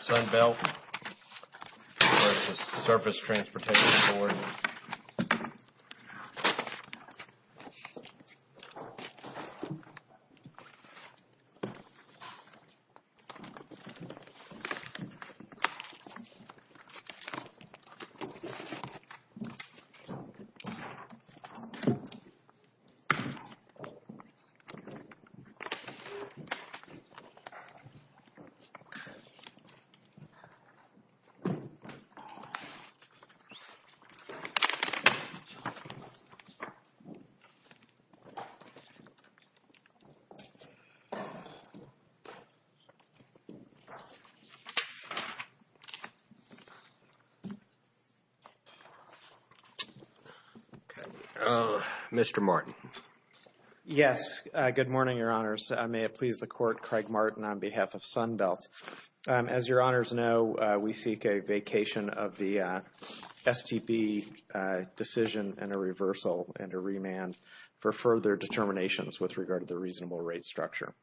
Sunbelt Surface Transportation Board Mr. Martin Yes, good morning, Your Honors. May it please the Court, Craig Martin on behalf of Sunbelt. As Your Honors know, we seek a vacation of the STB decision and a reversal and a remand for further determinations with regard to the reasonable rate structure.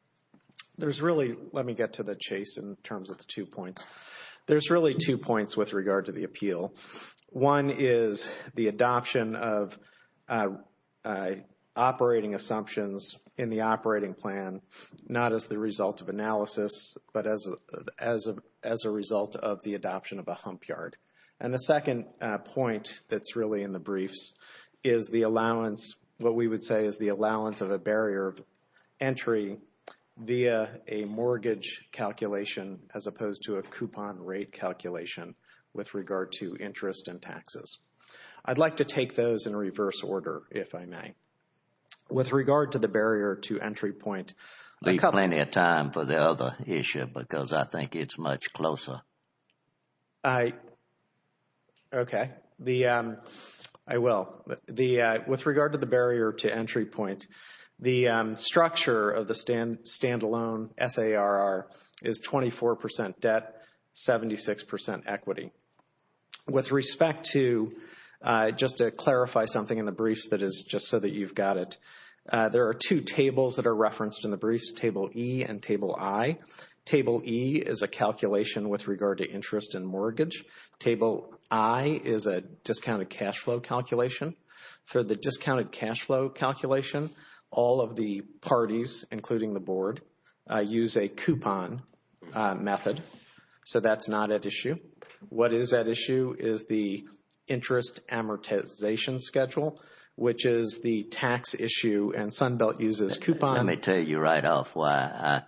There's really, let me get to the chase in terms of the two points. There's really two points with regard to the appeal. One is the adoption of operating assumptions in the operating plan, not as the result of analysis, but as a result of the adoption of a hump yard. And the second point that's really in the briefs is the allowance, what we would say is the allowance of a barrier of entry via a mortgage calculation as opposed to a coupon rate calculation with regard to interest and taxes. I'd like to take those in reverse order, if I may. With regard to the barrier to entry point. There's plenty of time for the other issue because I think it's much closer. Okay. I will. With regard to the barrier to entry point, the structure of the stand-alone SARR is 24 percent debt, 76 percent equity. With respect to, just to clarify something in the briefs that is just so that you've got it, there are two tables that are referenced in the briefs, table E and table I. Table E is a calculation with regard to interest and mortgage. Table I is a discounted cash flow calculation. For the discounted cash flow calculation, all of the parties, including the board, use a coupon method. So that's not at issue. What is at issue is the interest amortization schedule, which is the tax issue, and Sunbelt uses coupon. Let me tell you right off why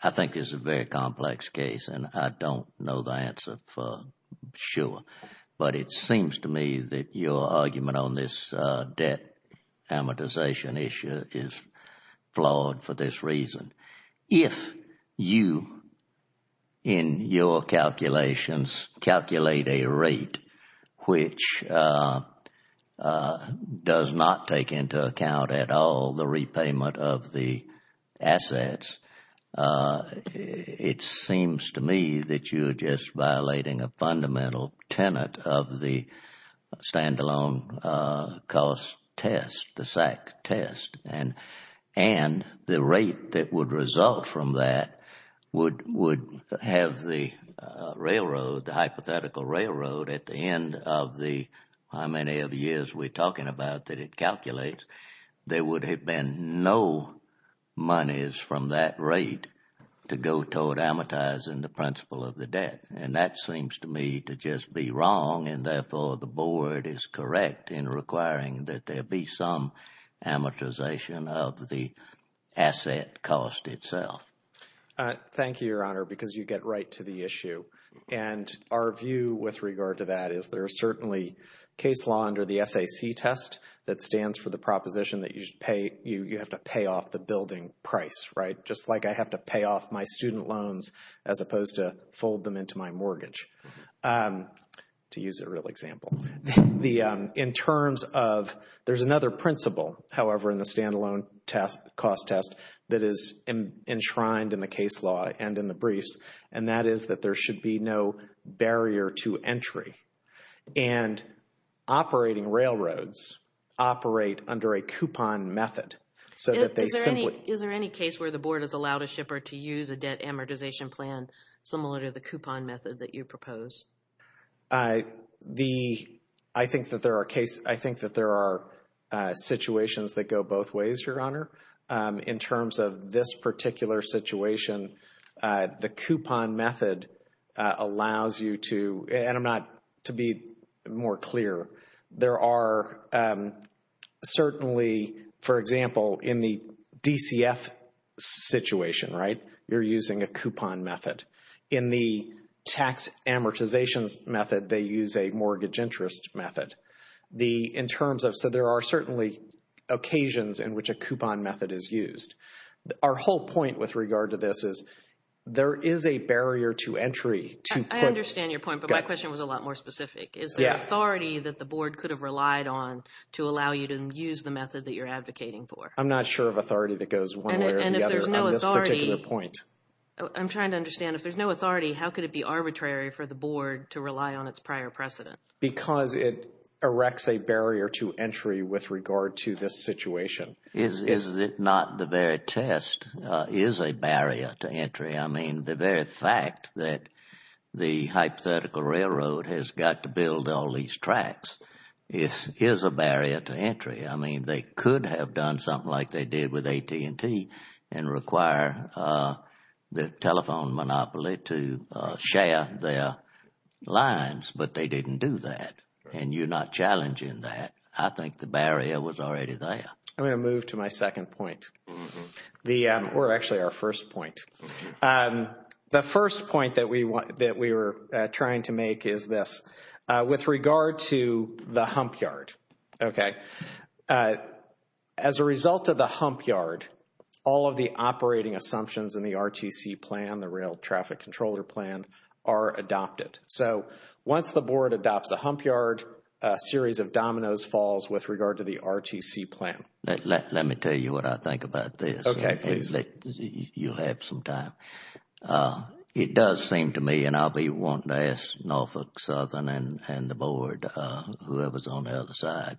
I think this is a very complex case, and I don't know the answer for sure. But it seems to me that your argument on this debt amortization issue is flawed for this reason. If you, in your calculations, calculate a rate which does not take into account at all the repayment of the assets, it seems to me that you are just violating a fundamental tenet of the stand-alone cost test, the SAC test. And the rate that would result from that would have the railroad, the hypothetical railroad, at the end of the how many of years we're talking about that it calculates, there would have been no monies from that rate to go toward amortizing the principle of the debt. And that seems to me to just be wrong, and therefore the board is correct in requiring that there be some amortization of the asset cost itself. Thank you, Your Honor, because you get right to the issue. And our view with regard to that is there is certainly case law under the SAC test that stands for the proposition that you have to pay off the building price, right? Just like I have to pay off my student loans as opposed to fold them into my mortgage, to use a real example. In terms of, there's another principle, however, in the stand-alone cost test that is enshrined in the case law and in the briefs, and that is that there should be no barrier to entry. And operating railroads operate under a coupon method. Is there any case where the board has allowed a shipper to use a debt amortization plan similar to the coupon method that you propose? I think that there are situations that go both ways, Your Honor. In terms of this particular situation, the coupon method allows you to, and I'm not, to be more clear. There are certainly, for example, in the DCF situation, right, you're using a coupon method. In the tax amortization method, they use a mortgage interest method. In terms of, so there are certainly occasions in which a coupon method is used. Our whole point with regard to this is there is a barrier to entry. I understand your point, but my question was a lot more specific. Is there authority that the board could have relied on to allow you to use the method that you're advocating for? I'm not sure of authority that goes one way or the other on this particular point. I'm trying to understand, if there's no authority, how could it be arbitrary for the board to rely on its prior precedent? Because it erects a barrier to entry with regard to this situation. Is it not the very test is a barrier to entry? I mean, the very fact that the hypothetical railroad has got to build all these tracks is a barrier to entry. I mean, they could have done something like they did with AT&T and require the telephone monopoly to share their lines, but they didn't do that. And you're not challenging that. I think the barrier was already there. I'm going to move to my second point. Or actually, our first point. The first point that we were trying to make is this. With regard to the hump yard. Okay. As a result of the hump yard, all of the operating assumptions in the RTC plan, the Rail Traffic Controller Plan, are adopted. So once the board adopts a hump yard, a series of dominoes falls with regard to the RTC plan. Let me tell you what I think about this. Okay, please. You'll have some time. It does seem to me, and I'll be wanting to ask Norfolk Southern and the board, whoever is on the other side.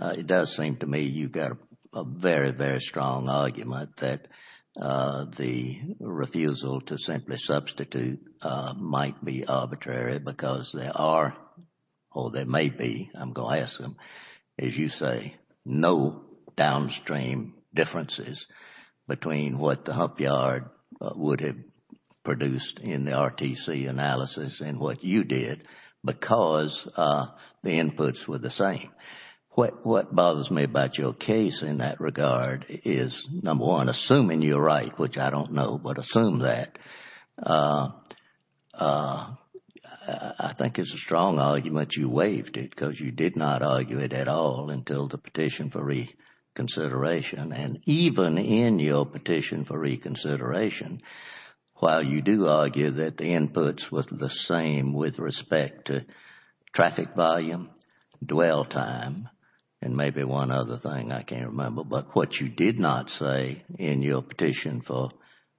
It does seem to me you've got a very, very strong argument that the refusal to simply substitute might be arbitrary because there are, or there may be, I'm going to ask them, as you say, no downstream differences between what the hump yard would have produced in the RTC analysis and what you did because the inputs were the same. What bothers me about your case in that regard is, number one, assuming you're right, which I don't know, but assume that. I think it's a strong argument you waived it because you did not argue it at all until the petition for reconsideration. And even in your petition for reconsideration, while you do argue that the inputs were the same with respect to traffic volume, dwell time, and maybe one other thing, I can't remember, but what you did not say in your petition for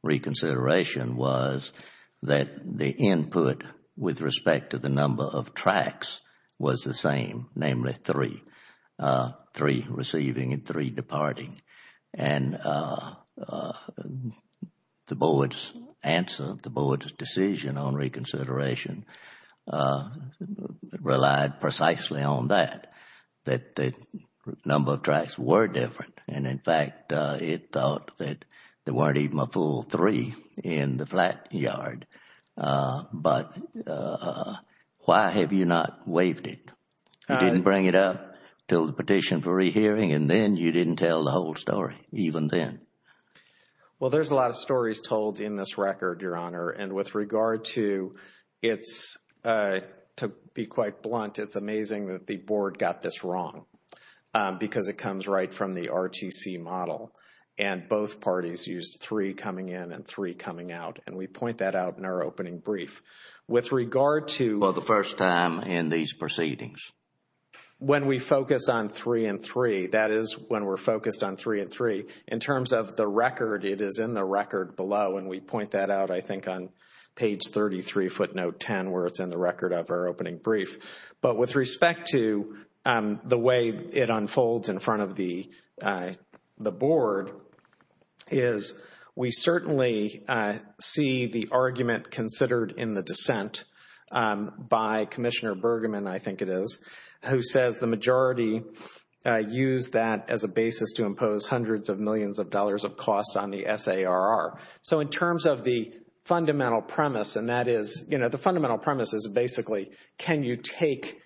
reconsideration was that the input with respect to the number of tracks was the same, namely three, three receiving and three departing. And the board's answer, the board's decision on reconsideration relied precisely on that, that the number of tracks were different. And in fact, it thought that there weren't even a full three in the flat yard. But why have you not waived it? You didn't bring it up until the petition for rehearing and then you didn't tell the whole story, even then. Well, there's a lot of stories told in this record, Your Honor. And with regard to its, to be quite blunt, it's amazing that the board got this wrong because it comes right from the RTC model. And both parties used three coming in and three coming out. And we point that out in our opening brief. For the first time in these proceedings. When we focus on three and three, that is when we're focused on three and three. In terms of the record, it is in the record below. And we point that out, I think, on page 33, footnote 10, where it's in the record of our opening brief. But with respect to the way it unfolds in front of the board, is we certainly see the argument considered in the dissent by Commissioner Bergeman, I think it is, who says the majority used that as a basis to impose hundreds of millions of dollars of costs on the SARR. So in terms of the fundamental premise, and that is, you know, the fundamental premise is basically, can you take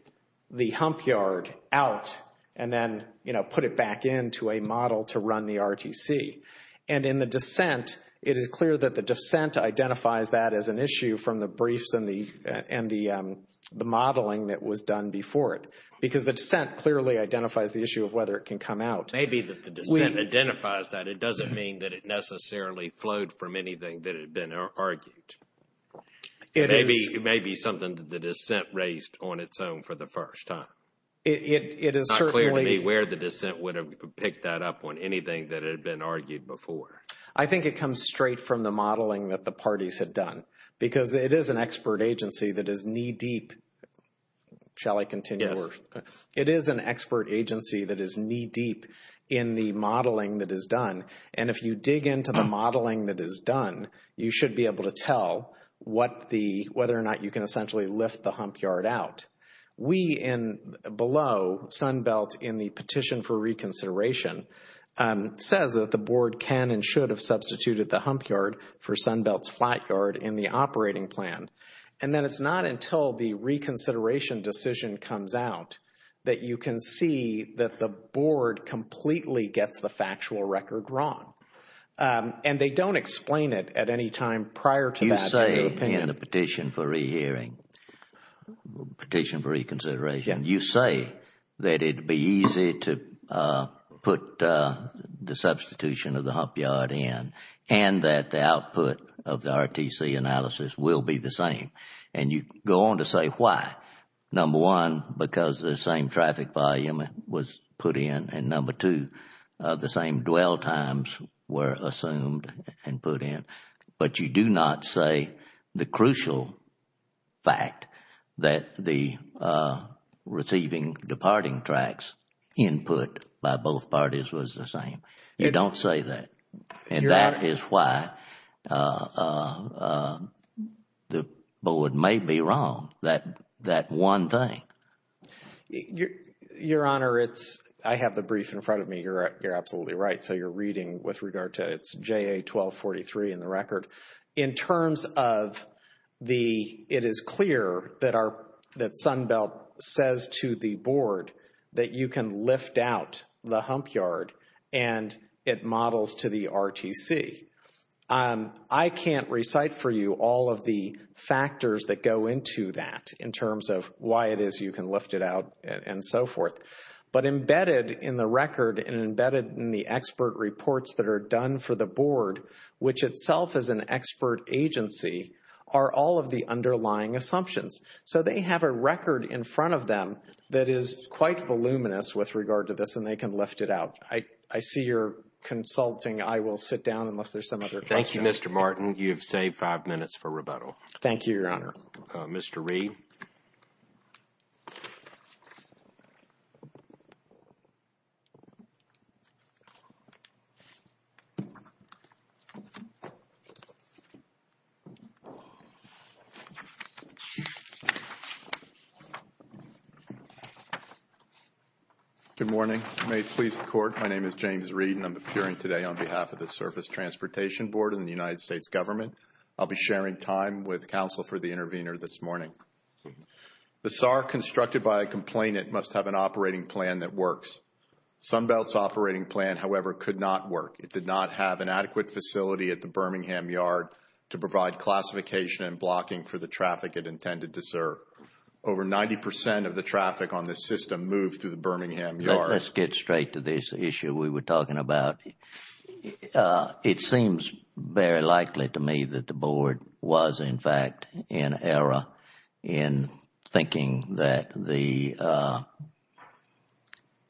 the hump yard out and then, you know, put it back into a model to run the RTC? And in the dissent, it is clear that the dissent identifies that as an issue from the briefs and the modeling that was done before it. Because the dissent clearly identifies the issue of whether it can come out. It may be that the dissent identifies that. It doesn't mean that it necessarily flowed from anything that had been argued. It may be something that the dissent raised on its own for the first time. It is not clear to me where the dissent would have picked that up on anything that had been argued before. I think it comes straight from the modeling that the parties had done. Because it is an expert agency that is knee-deep, shall I continue? It is an expert agency that is knee-deep in the modeling that is done. And if you dig into the modeling that is done, you should be able to tell whether or not you can essentially lift the hump yard out. We in below, Sunbelt in the petition for reconsideration, says that the board can and should have substituted the hump yard for Sunbelt's flat yard in the operating plan. And that it is not until the reconsideration decision comes out that you can see that the board completely gets the factual record wrong. And they don't explain it at any time prior to that. You say in the petition for rehearing, petition for reconsideration, you say that it would be easy to put the substitution of the hump yard in and that the output of the RTC analysis will be the same. And you go on to say why. Number one, because the same traffic volume was put in. And number two, the same dwell times were assumed and put in. But you do not say the crucial fact that the receiving departing tracks input by both parties was the same. You don't say that. And that is why the board may be wrong, that one thing. Your Honor, it's, I have the brief in front of me. You're absolutely right. So you're reading with regard to, it's JA 1243 in the record. In terms of the, it is clear that our, that Sunbelt says to the board that you can lift out the hump yard and it models to the RTC. I can't recite for you all of the factors that go into that in terms of why it is you can lift it out and so forth. But embedded in the record and embedded in the expert reports that are done for the board, which itself is an expert agency, are all of the underlying assumptions. So they have a record in front of them that is quite voluminous with regard to this and they can lift it out. I see you're consulting. I will sit down unless there's some other question. Thank you, Mr. Martin. You've saved five minutes for rebuttal. Thank you, Your Honor. Mr. Reed. Good morning. May it please the court, my name is James Reed and I'm appearing today on behalf of the Surface Transportation Board and the United States government. I'll be sharing time with counsel for the intervener this morning. The SAR constructed by a complainant must have an operating plan that works. Sunbelt's operating plan, however, could not work. It did not have an adequate facility at the Birmingham yard to provide classification and blocking for the traffic it intended to serve. Over 90% of the traffic on this system moved through the Birmingham yard. Let's get straight to this issue we were talking about. It seems very likely to me that the board was, in fact, in error in thinking that the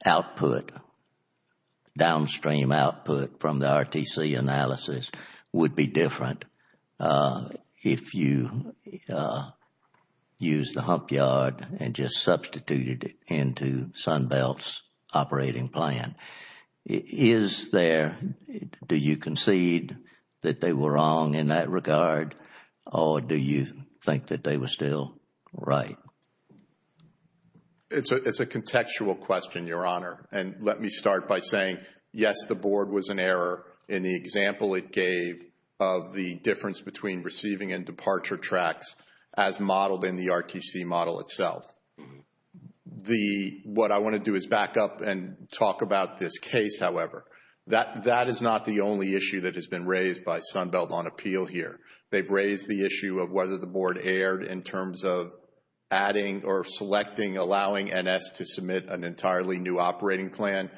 output, downstream output from the RTC analysis would be different if you used the hump yard and just substituted it into Sunbelt's operating plan. Is there, do you concede that they were wrong in that regard or do you think that they were still right? It's a contextual question, Your Honor. And let me start by saying, yes, the board was in error in the example it gave of the difference between receiving and departure tracks as modeled in the RTC model itself. What I want to do is back up and talk about this case, however. That is not the only issue that has been raised by Sunbelt on appeal here. They've raised the issue of whether the board erred in terms of adding or selecting, allowing NS to submit an entirely new operating plan.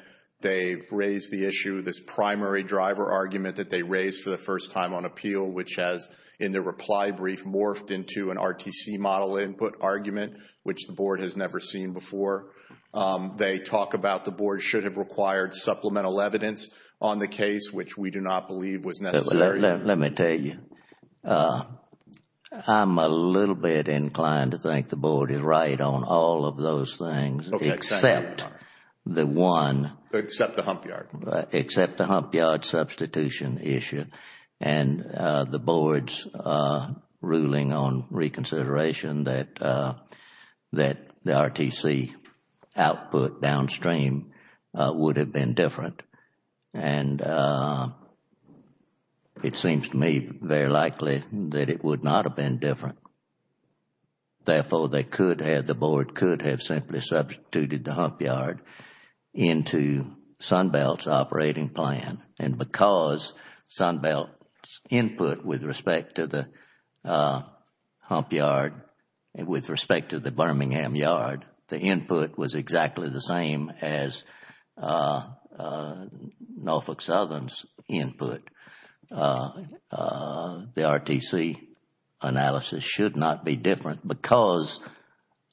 They've raised the issue, this primary driver argument that they raised for the first time on appeal, which has, in the reply brief, morphed into an RTC model input argument, which the board has never seen before. They talk about the board should have required supplemental evidence on the case, which we do not believe was necessary. Let me tell you. I'm a little bit inclined to think the board is right on all of those things except the one. Except the Humpyard. Except the Humpyard substitution issue and the board's ruling on reconsideration that the RTC output downstream would have been different. And it seems to me very likely that it would not have been different. Therefore, they could have, the board could have simply substituted the Humpyard into Sunbelt's operating plan. And because Sunbelt's input with respect to the Humpyard, with respect to the Birmingham yard, the input was exactly the same as Norfolk Southern's input. The RTC analysis should not be different because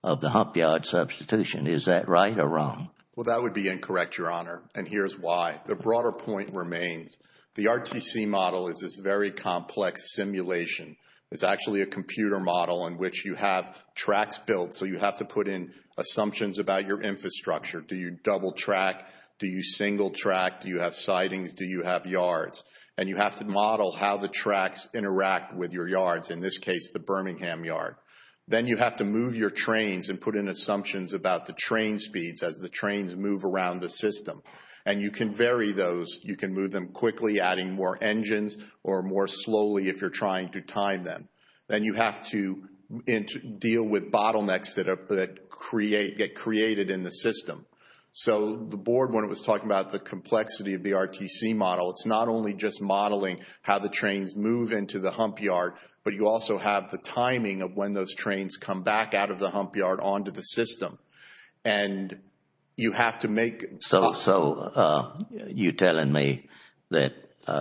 of the Humpyard substitution. Is that right or wrong? Well, that would be incorrect, Your Honor, and here's why. The broader point remains. The RTC model is this very complex simulation. It's actually a computer model in which you have tracks built, so you have to put in assumptions about your infrastructure. Do you double track? Do you single track? Do you have sidings? Do you have yards? And you have to model how the tracks interact with your yards, in this case the Birmingham yard. Then you have to move your trains and put in assumptions about the train speeds as the trains move around the system. And you can vary those. You can move them quickly, adding more engines, or more slowly if you're trying to time them. Then you have to deal with bottlenecks that get created in the system. So the board, when it was talking about the complexity of the RTC model, it's not only just modeling how the trains move into the Humpyard, but you also have the timing of when those trains come back out of the Humpyard onto the system. And you have to make— So you're telling me that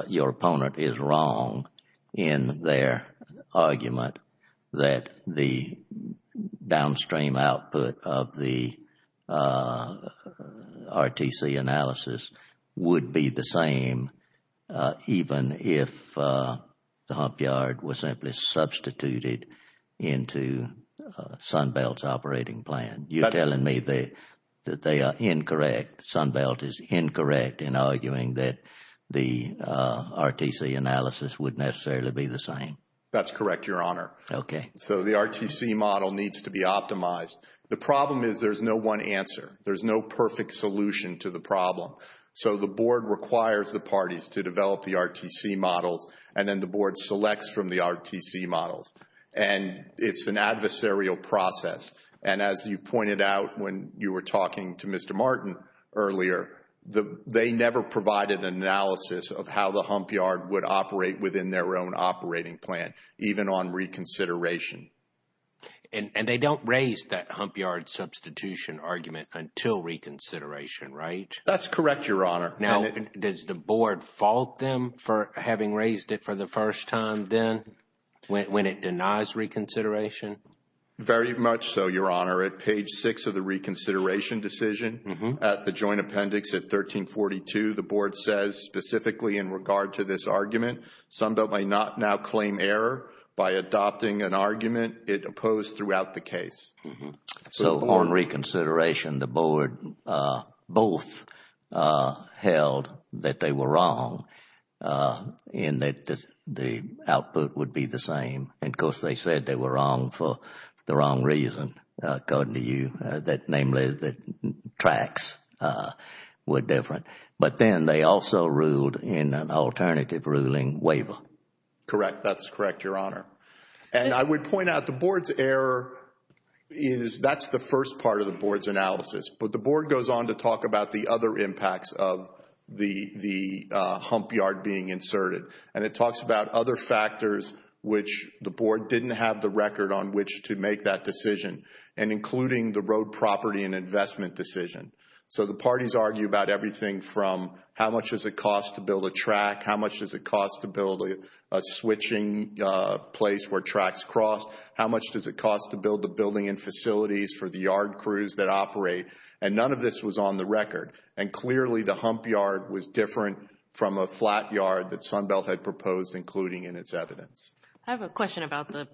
your opponent is wrong in their argument that the downstream output of the RTC analysis would be the same even if the Humpyard was simply substituted into Sunbelt's operating plan? You're telling me that they are incorrect, Sunbelt is incorrect, in arguing that the RTC analysis would necessarily be the same? That's correct, Your Honor. Okay. So the RTC model needs to be optimized. The problem is there's no one answer. There's no perfect solution to the problem. So the board requires the parties to develop the RTC models, and then the board selects from the RTC models. And it's an adversarial process. And as you pointed out when you were talking to Mr. Martin earlier, they never provided an analysis of how the Humpyard would operate within their own operating plan, even on reconsideration. And they don't raise that Humpyard substitution argument until reconsideration, right? That's correct, Your Honor. Now, does the board fault them for having raised it for the first time then when it denies reconsideration? Very much so, Your Honor. At page 6 of the reconsideration decision at the joint appendix at 1342, the board says specifically in regard to this argument, some that may not now claim error by adopting an argument it opposed throughout the case. So on reconsideration, the board both held that they were wrong and that the output would be the same. And, of course, they said they were wrong for the wrong reason, according to you, namely that tracks were different. But then they also ruled in an alternative ruling waiver. Correct. That's correct, Your Honor. And I would point out the board's error is that's the first part of the board's analysis. But the board goes on to talk about the other impacts of the Humpyard being inserted. And it talks about other factors which the board didn't have the record on which to make that decision, and including the road property and investment decision. So the parties argue about everything from how much does it cost to build a track, how much does it cost to build a switching place where tracks cross, how much does it cost to build the building and facilities for the yard crews that operate, and none of this was on the record. And clearly the Humpyard was different from a flat yard that Sunbelt had proposed, including in its evidence. I have a question about the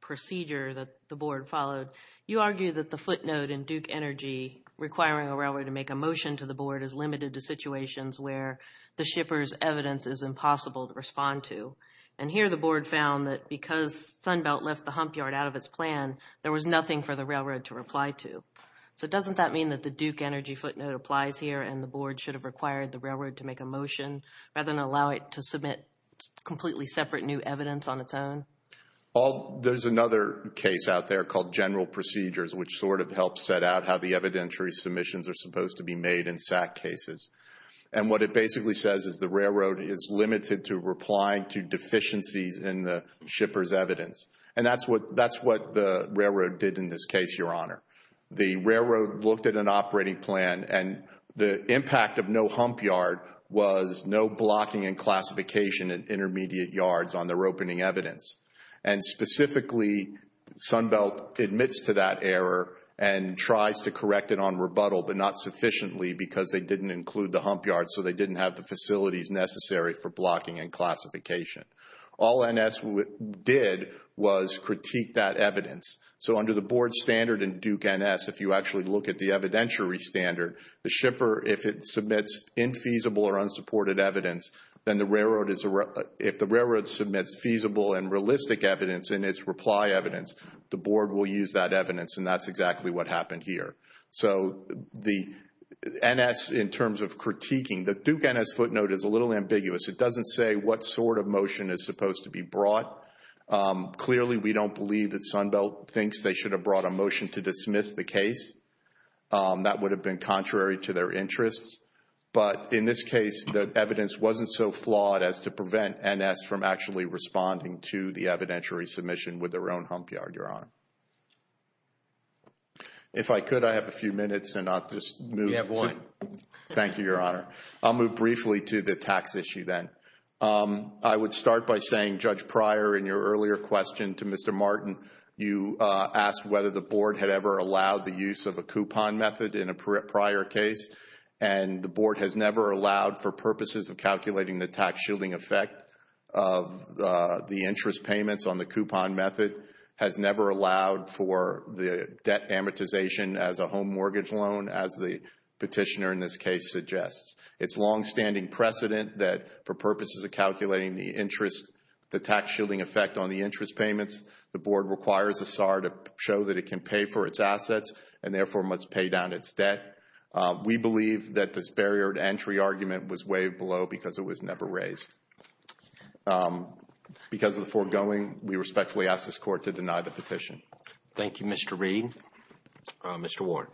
procedure that the board followed. You argue that the footnote in Duke Energy requiring a railroad to make a motion to the board is limited to situations where the shipper's evidence is impossible to respond to. And here the board found that because Sunbelt left the Humpyard out of its plan, there was nothing for the railroad to reply to. So doesn't that mean that the Duke Energy footnote applies here and the board should have required the railroad to make a motion rather than allow it to submit completely separate new evidence on its own? There's another case out there called General Procedures, which sort of helps set out how the evidentiary submissions are supposed to be made in SAC cases. And what it basically says is the railroad is limited to replying to deficiencies in the shipper's evidence. And that's what the railroad did in this case, Your Honor. The railroad looked at an operating plan and the impact of no Humpyard was no blocking and classification in intermediate yards on their opening evidence. And specifically, Sunbelt admits to that error and tries to correct it on rebuttal, but not sufficiently because they didn't include the Humpyard so they didn't have the facilities necessary for blocking and classification. All NS did was critique that evidence. So under the board standard in Duke NS, if you actually look at the evidentiary standard, the shipper, if it submits infeasible or unsupported evidence, then if the railroad submits feasible and realistic evidence in its reply evidence, the board will use that evidence, and that's exactly what happened here. So the NS in terms of critiquing, the Duke NS footnote is a little ambiguous. It doesn't say what sort of motion is supposed to be brought. Clearly, we don't believe that Sunbelt thinks they should have brought a motion to dismiss the case. That would have been contrary to their interests. But in this case, the evidence wasn't so flawed as to prevent NS from actually responding to the evidentiary submission with their own Humpyard, Your Honor. If I could, I have a few minutes and I'll just move to... Yeah, boy. Thank you, Your Honor. I'll move briefly to the tax issue then. I would start by saying, Judge Pryor, in your earlier question to Mr. Martin, you asked whether the board had ever allowed the use of a coupon method in a prior case, and the board has never allowed for purposes of calculating the tax shielding effect of the interest payments on the coupon method, has never allowed for the debt amortization as a home mortgage loan, as the petitioner in this case suggests. It's longstanding precedent that for purposes of calculating the interest, the tax shielding effect on the interest payments, the board requires a SAR to show that it can pay for its assets and therefore must pay down its debt. We believe that this barrier to entry argument was waived below because it was never raised. Because of the foregoing, we respectfully ask this court to deny the petition. Thank you, Mr. Reed. Mr. Warren.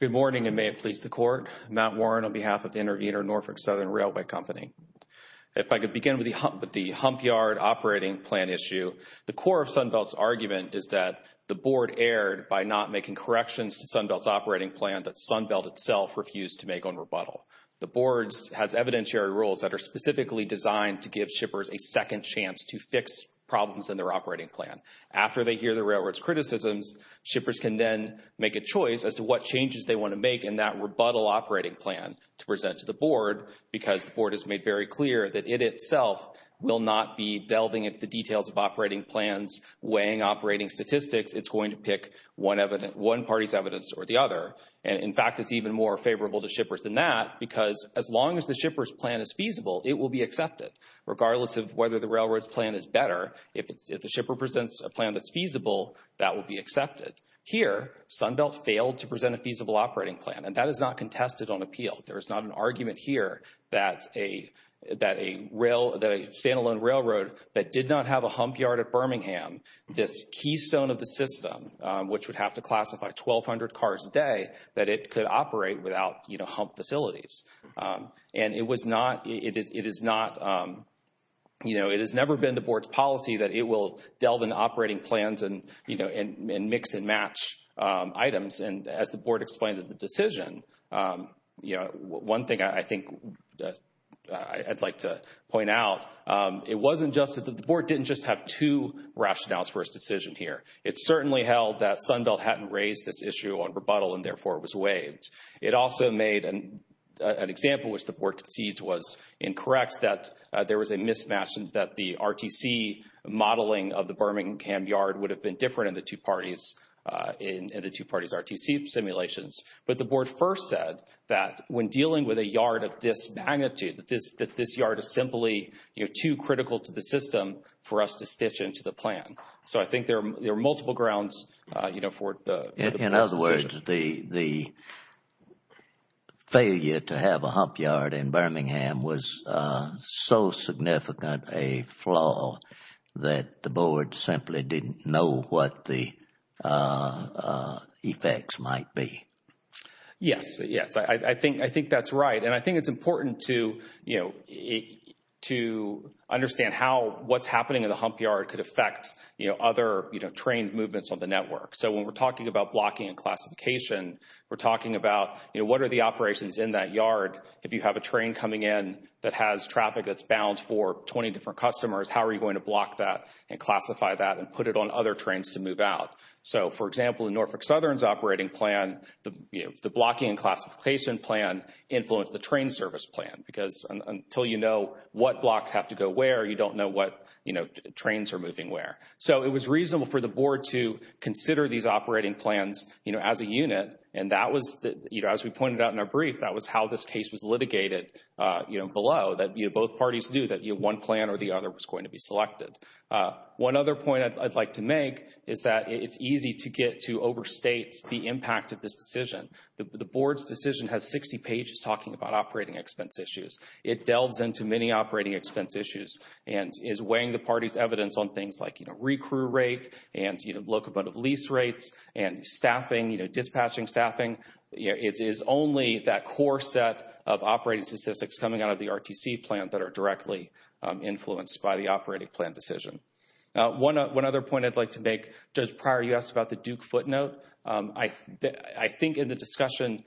Good morning, and may it please the court. Matt Warren on behalf of Intervenor Norfolk Southern Railway Company. If I could begin with the Humpyard operating plan issue. The core of Sunbelt's argument is that the board erred by not making corrections to Sunbelt's operating plan that Sunbelt itself refused to make on rebuttal. The board has evidentiary rules that are specifically designed to give shippers a second chance to fix problems in their operating plan. After they hear the railroad's criticisms, shippers can then make a choice as to what changes they want to make in that rebuttal operating plan to present to the board because the board has made very clear that it itself will not be delving into the details of operating plans, weighing operating statistics. It's going to pick one party's evidence or the other. In fact, it's even more favorable to shippers than that because as long as the shipper's plan is feasible, it will be accepted. Regardless of whether the railroad's plan is better, if the shipper presents a plan that's feasible, that will be accepted. Here, Sunbelt failed to present a feasible operating plan, and that is not contested on appeal. There is not an argument here that a stand-alone railroad that did not have a humpyard at Birmingham, this keystone of the system, which would have to classify 1,200 cars a day, that it could operate without hump facilities. And it was not, it is not, you know, it has never been the board's policy that it will delve into operating plans and, you know, and mix and match items. And as the board explained in the decision, you know, one thing I think I'd like to point out, it wasn't just that the board didn't just have two rationales for its decision here. It certainly held that Sunbelt hadn't raised this issue on rebuttal and, therefore, it was waived. It also made an example, which the board concedes was incorrect, that there was a mismatch and that the RTC modeling of the Birmingham yard would have been different in the two parties, in the two parties' RTC simulations. But the board first said that when dealing with a yard of this magnitude, that this yard is simply, you know, too critical to the system for us to stitch into the plan. So I think there are multiple grounds, you know, for the decision. The failure to have a hump yard in Birmingham was so significant a flaw that the board simply didn't know what the effects might be. Yes, yes, I think that's right. And I think it's important to, you know, to understand how what's happening in the hump yard could affect, you know, other, you know, trained movements on the network. So when we're talking about blocking and classification, we're talking about, you know, what are the operations in that yard? If you have a train coming in that has traffic that's bound for 20 different customers, how are you going to block that and classify that and put it on other trains to move out? So, for example, in Norfolk Southern's operating plan, the blocking and classification plan influenced the train service plan because until you know what blocks have to go where, you don't know what, you know, trains are moving where. So it was reasonable for the board to consider these operating plans, you know, as a unit. And that was, you know, as we pointed out in our brief, that was how this case was litigated, you know, below that both parties knew that one plan or the other was going to be selected. One other point I'd like to make is that it's easy to get to overstate the impact of this decision. The board's decision has 60 pages talking about operating expense issues. It delves into many operating expense issues and is weighing the party's evidence on things like, you know, recruit rate and, you know, locomotive lease rates and staffing, you know, dispatching staffing. It is only that core set of operating statistics coming out of the RTC plan that are directly influenced by the operating plan decision. One other point I'd like to make, Judge Pryor, you asked about the Duke footnote. I think in the discussion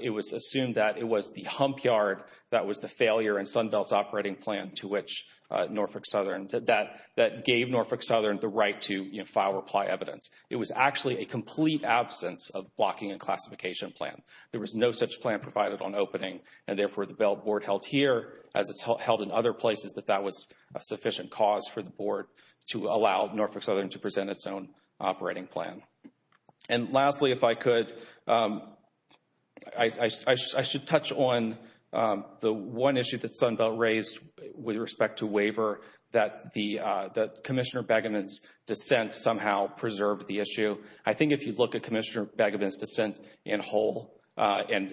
it was assumed that it was the hump yard that was the failure in Sunbelt's operating plan to which Norfolk Southern did that, that gave Norfolk Southern the right to, you know, file or apply evidence. It was actually a complete absence of blocking and classification plan. There was no such plan provided on opening, and therefore the board held here, as it's held in other places, that that was a sufficient cause for the board to allow Norfolk Southern to present its own operating plan. And lastly, if I could, I should touch on the one issue that Sunbelt raised with respect to waiver, that Commissioner Begevin's dissent somehow preserved the issue. I think if you look at Commissioner Begevin's dissent in whole, and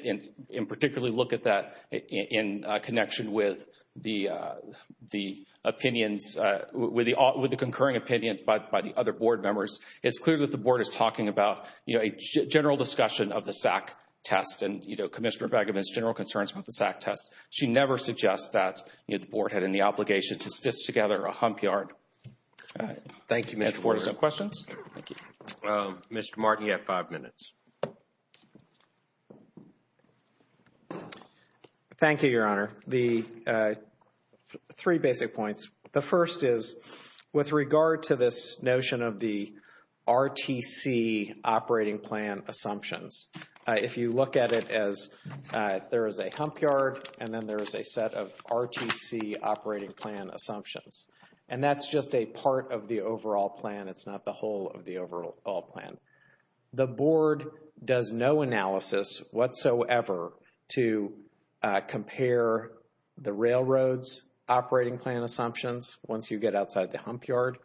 particularly look at that in connection with the opinions, with the concurring opinions by the other board members, it's clear that the board is talking about, you know, a general discussion of the SAC test and, you know, Commissioner Begevin's general concerns with the SAC test. She never suggests that, you know, the board had any obligation to stitch together a hump yard. Thank you, Mr. Pryor. Any questions? Mr. Martin, you have five minutes. Thank you, Your Honor. The three basic points. The first is, with regard to this notion of the RTC operating plan assumptions, if you look at it as there is a hump yard and then there is a set of RTC operating plan assumptions, and that's just a part of the overall plan. It's not the whole of the overall plan. The board does no analysis whatsoever to compare the railroad's operating plan assumptions once you get outside the hump yard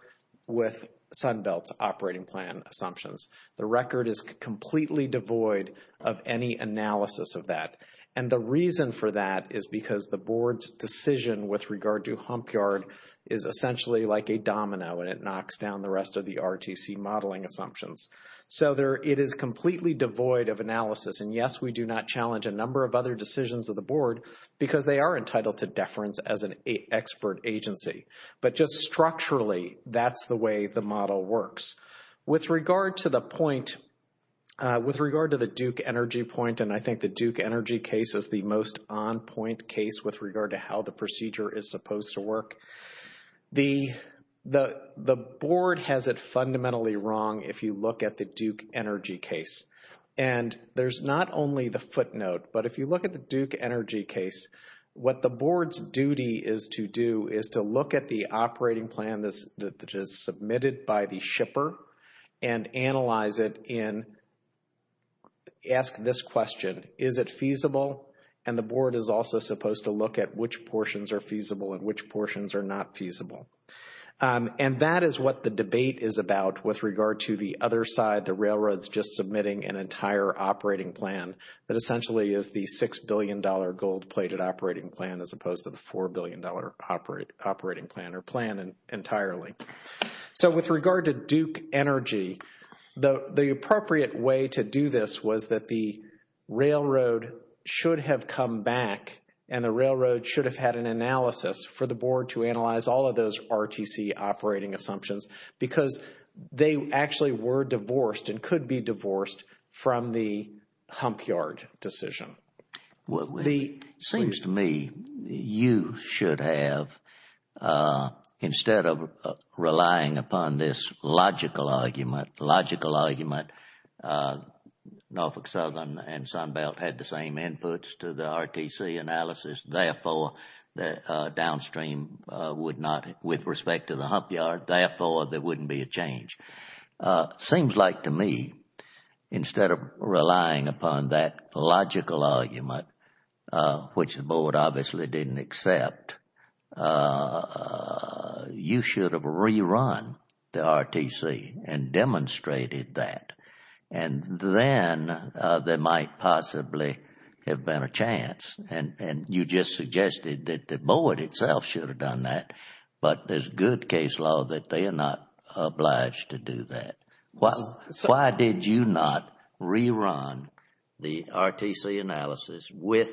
with Sunbelt's operating plan assumptions. The record is completely devoid of any analysis of that. And the reason for that is because the board's decision with regard to hump yard is essentially like a domino and it knocks down the rest of the RTC modeling assumptions. So it is completely devoid of analysis. And, yes, we do not challenge a number of other decisions of the board because they are entitled to deference as an expert agency. But just structurally, that's the way the model works. With regard to the point, with regard to the Duke Energy point, and I think the Duke Energy case is the most on-point case with regard to how the procedure is supposed to work, the board has it fundamentally wrong if you look at the Duke Energy case. And there's not only the footnote, but if you look at the Duke Energy case, what the board's duty is to do is to look at the operating plan that is submitted by the shipper and analyze it in, ask this question, is it feasible? And the board is also supposed to look at which portions are feasible and which portions are not feasible. And that is what the debate is about with regard to the other side, the railroads just submitting an entire operating plan that essentially is the $6 billion gold-plated operating plan as opposed to the $4 billion operating plan or plan entirely. So with regard to Duke Energy, the appropriate way to do this was that the railroad should have come back and the railroad should have had an analysis for the board to analyze all of those RTC operating assumptions because they actually were divorced and could be divorced from the Humpyard decision. It seems to me you should have, instead of relying upon this logical argument, logical argument, Norfolk Southern and Sunbelt had the same inputs to the RTC analysis, therefore downstream would not, with respect to the Humpyard, therefore there wouldn't be a change. Seems like to me, instead of relying upon that logical argument, which the board obviously didn't accept, you should have rerun the RTC and demonstrated that. And then there might possibly have been a chance. And you just suggested that the board itself should have done that, but there's good case law that they are not obliged to do that. Why did you not rerun the RTC analysis with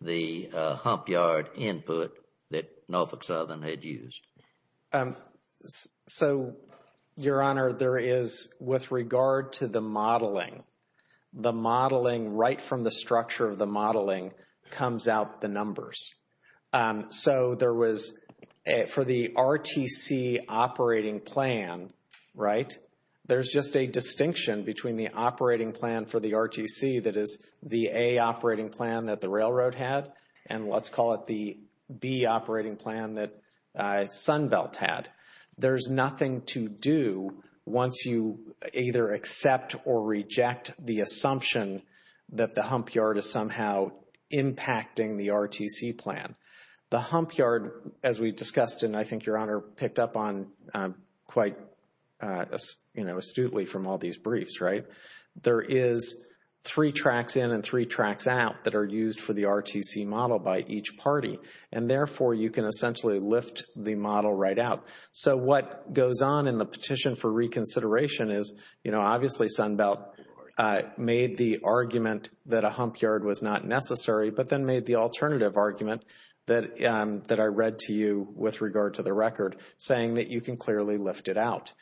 the Humpyard input that Norfolk Southern had used? So, Your Honor, there is, with regard to the modeling, the modeling right from the structure of the modeling comes out the numbers. So there was, for the RTC operating plan, right, there's just a distinction between the operating plan for the RTC that is the A operating plan that the railroad had and let's call it the B operating plan that Sunbelt had. There's nothing to do once you either accept or reject the assumption that the Humpyard is somehow impacting the RTC plan. The Humpyard, as we discussed and I think Your Honor picked up on quite astutely from all these briefs, right, there is three tracks in and three tracks out that are used for the RTC model by each party. And therefore, you can essentially lift the model right out. So what goes on in the petition for reconsideration is, you know, made the argument that a Humpyard was not necessary but then made the alternative argument that I read to you with regard to the record saying that you can clearly lift it out.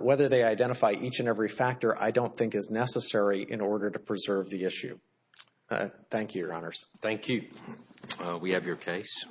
Whether they identify each and every factor I don't think is necessary in order to preserve the issue. Thank you, Your Honors. Thank you. We have your case.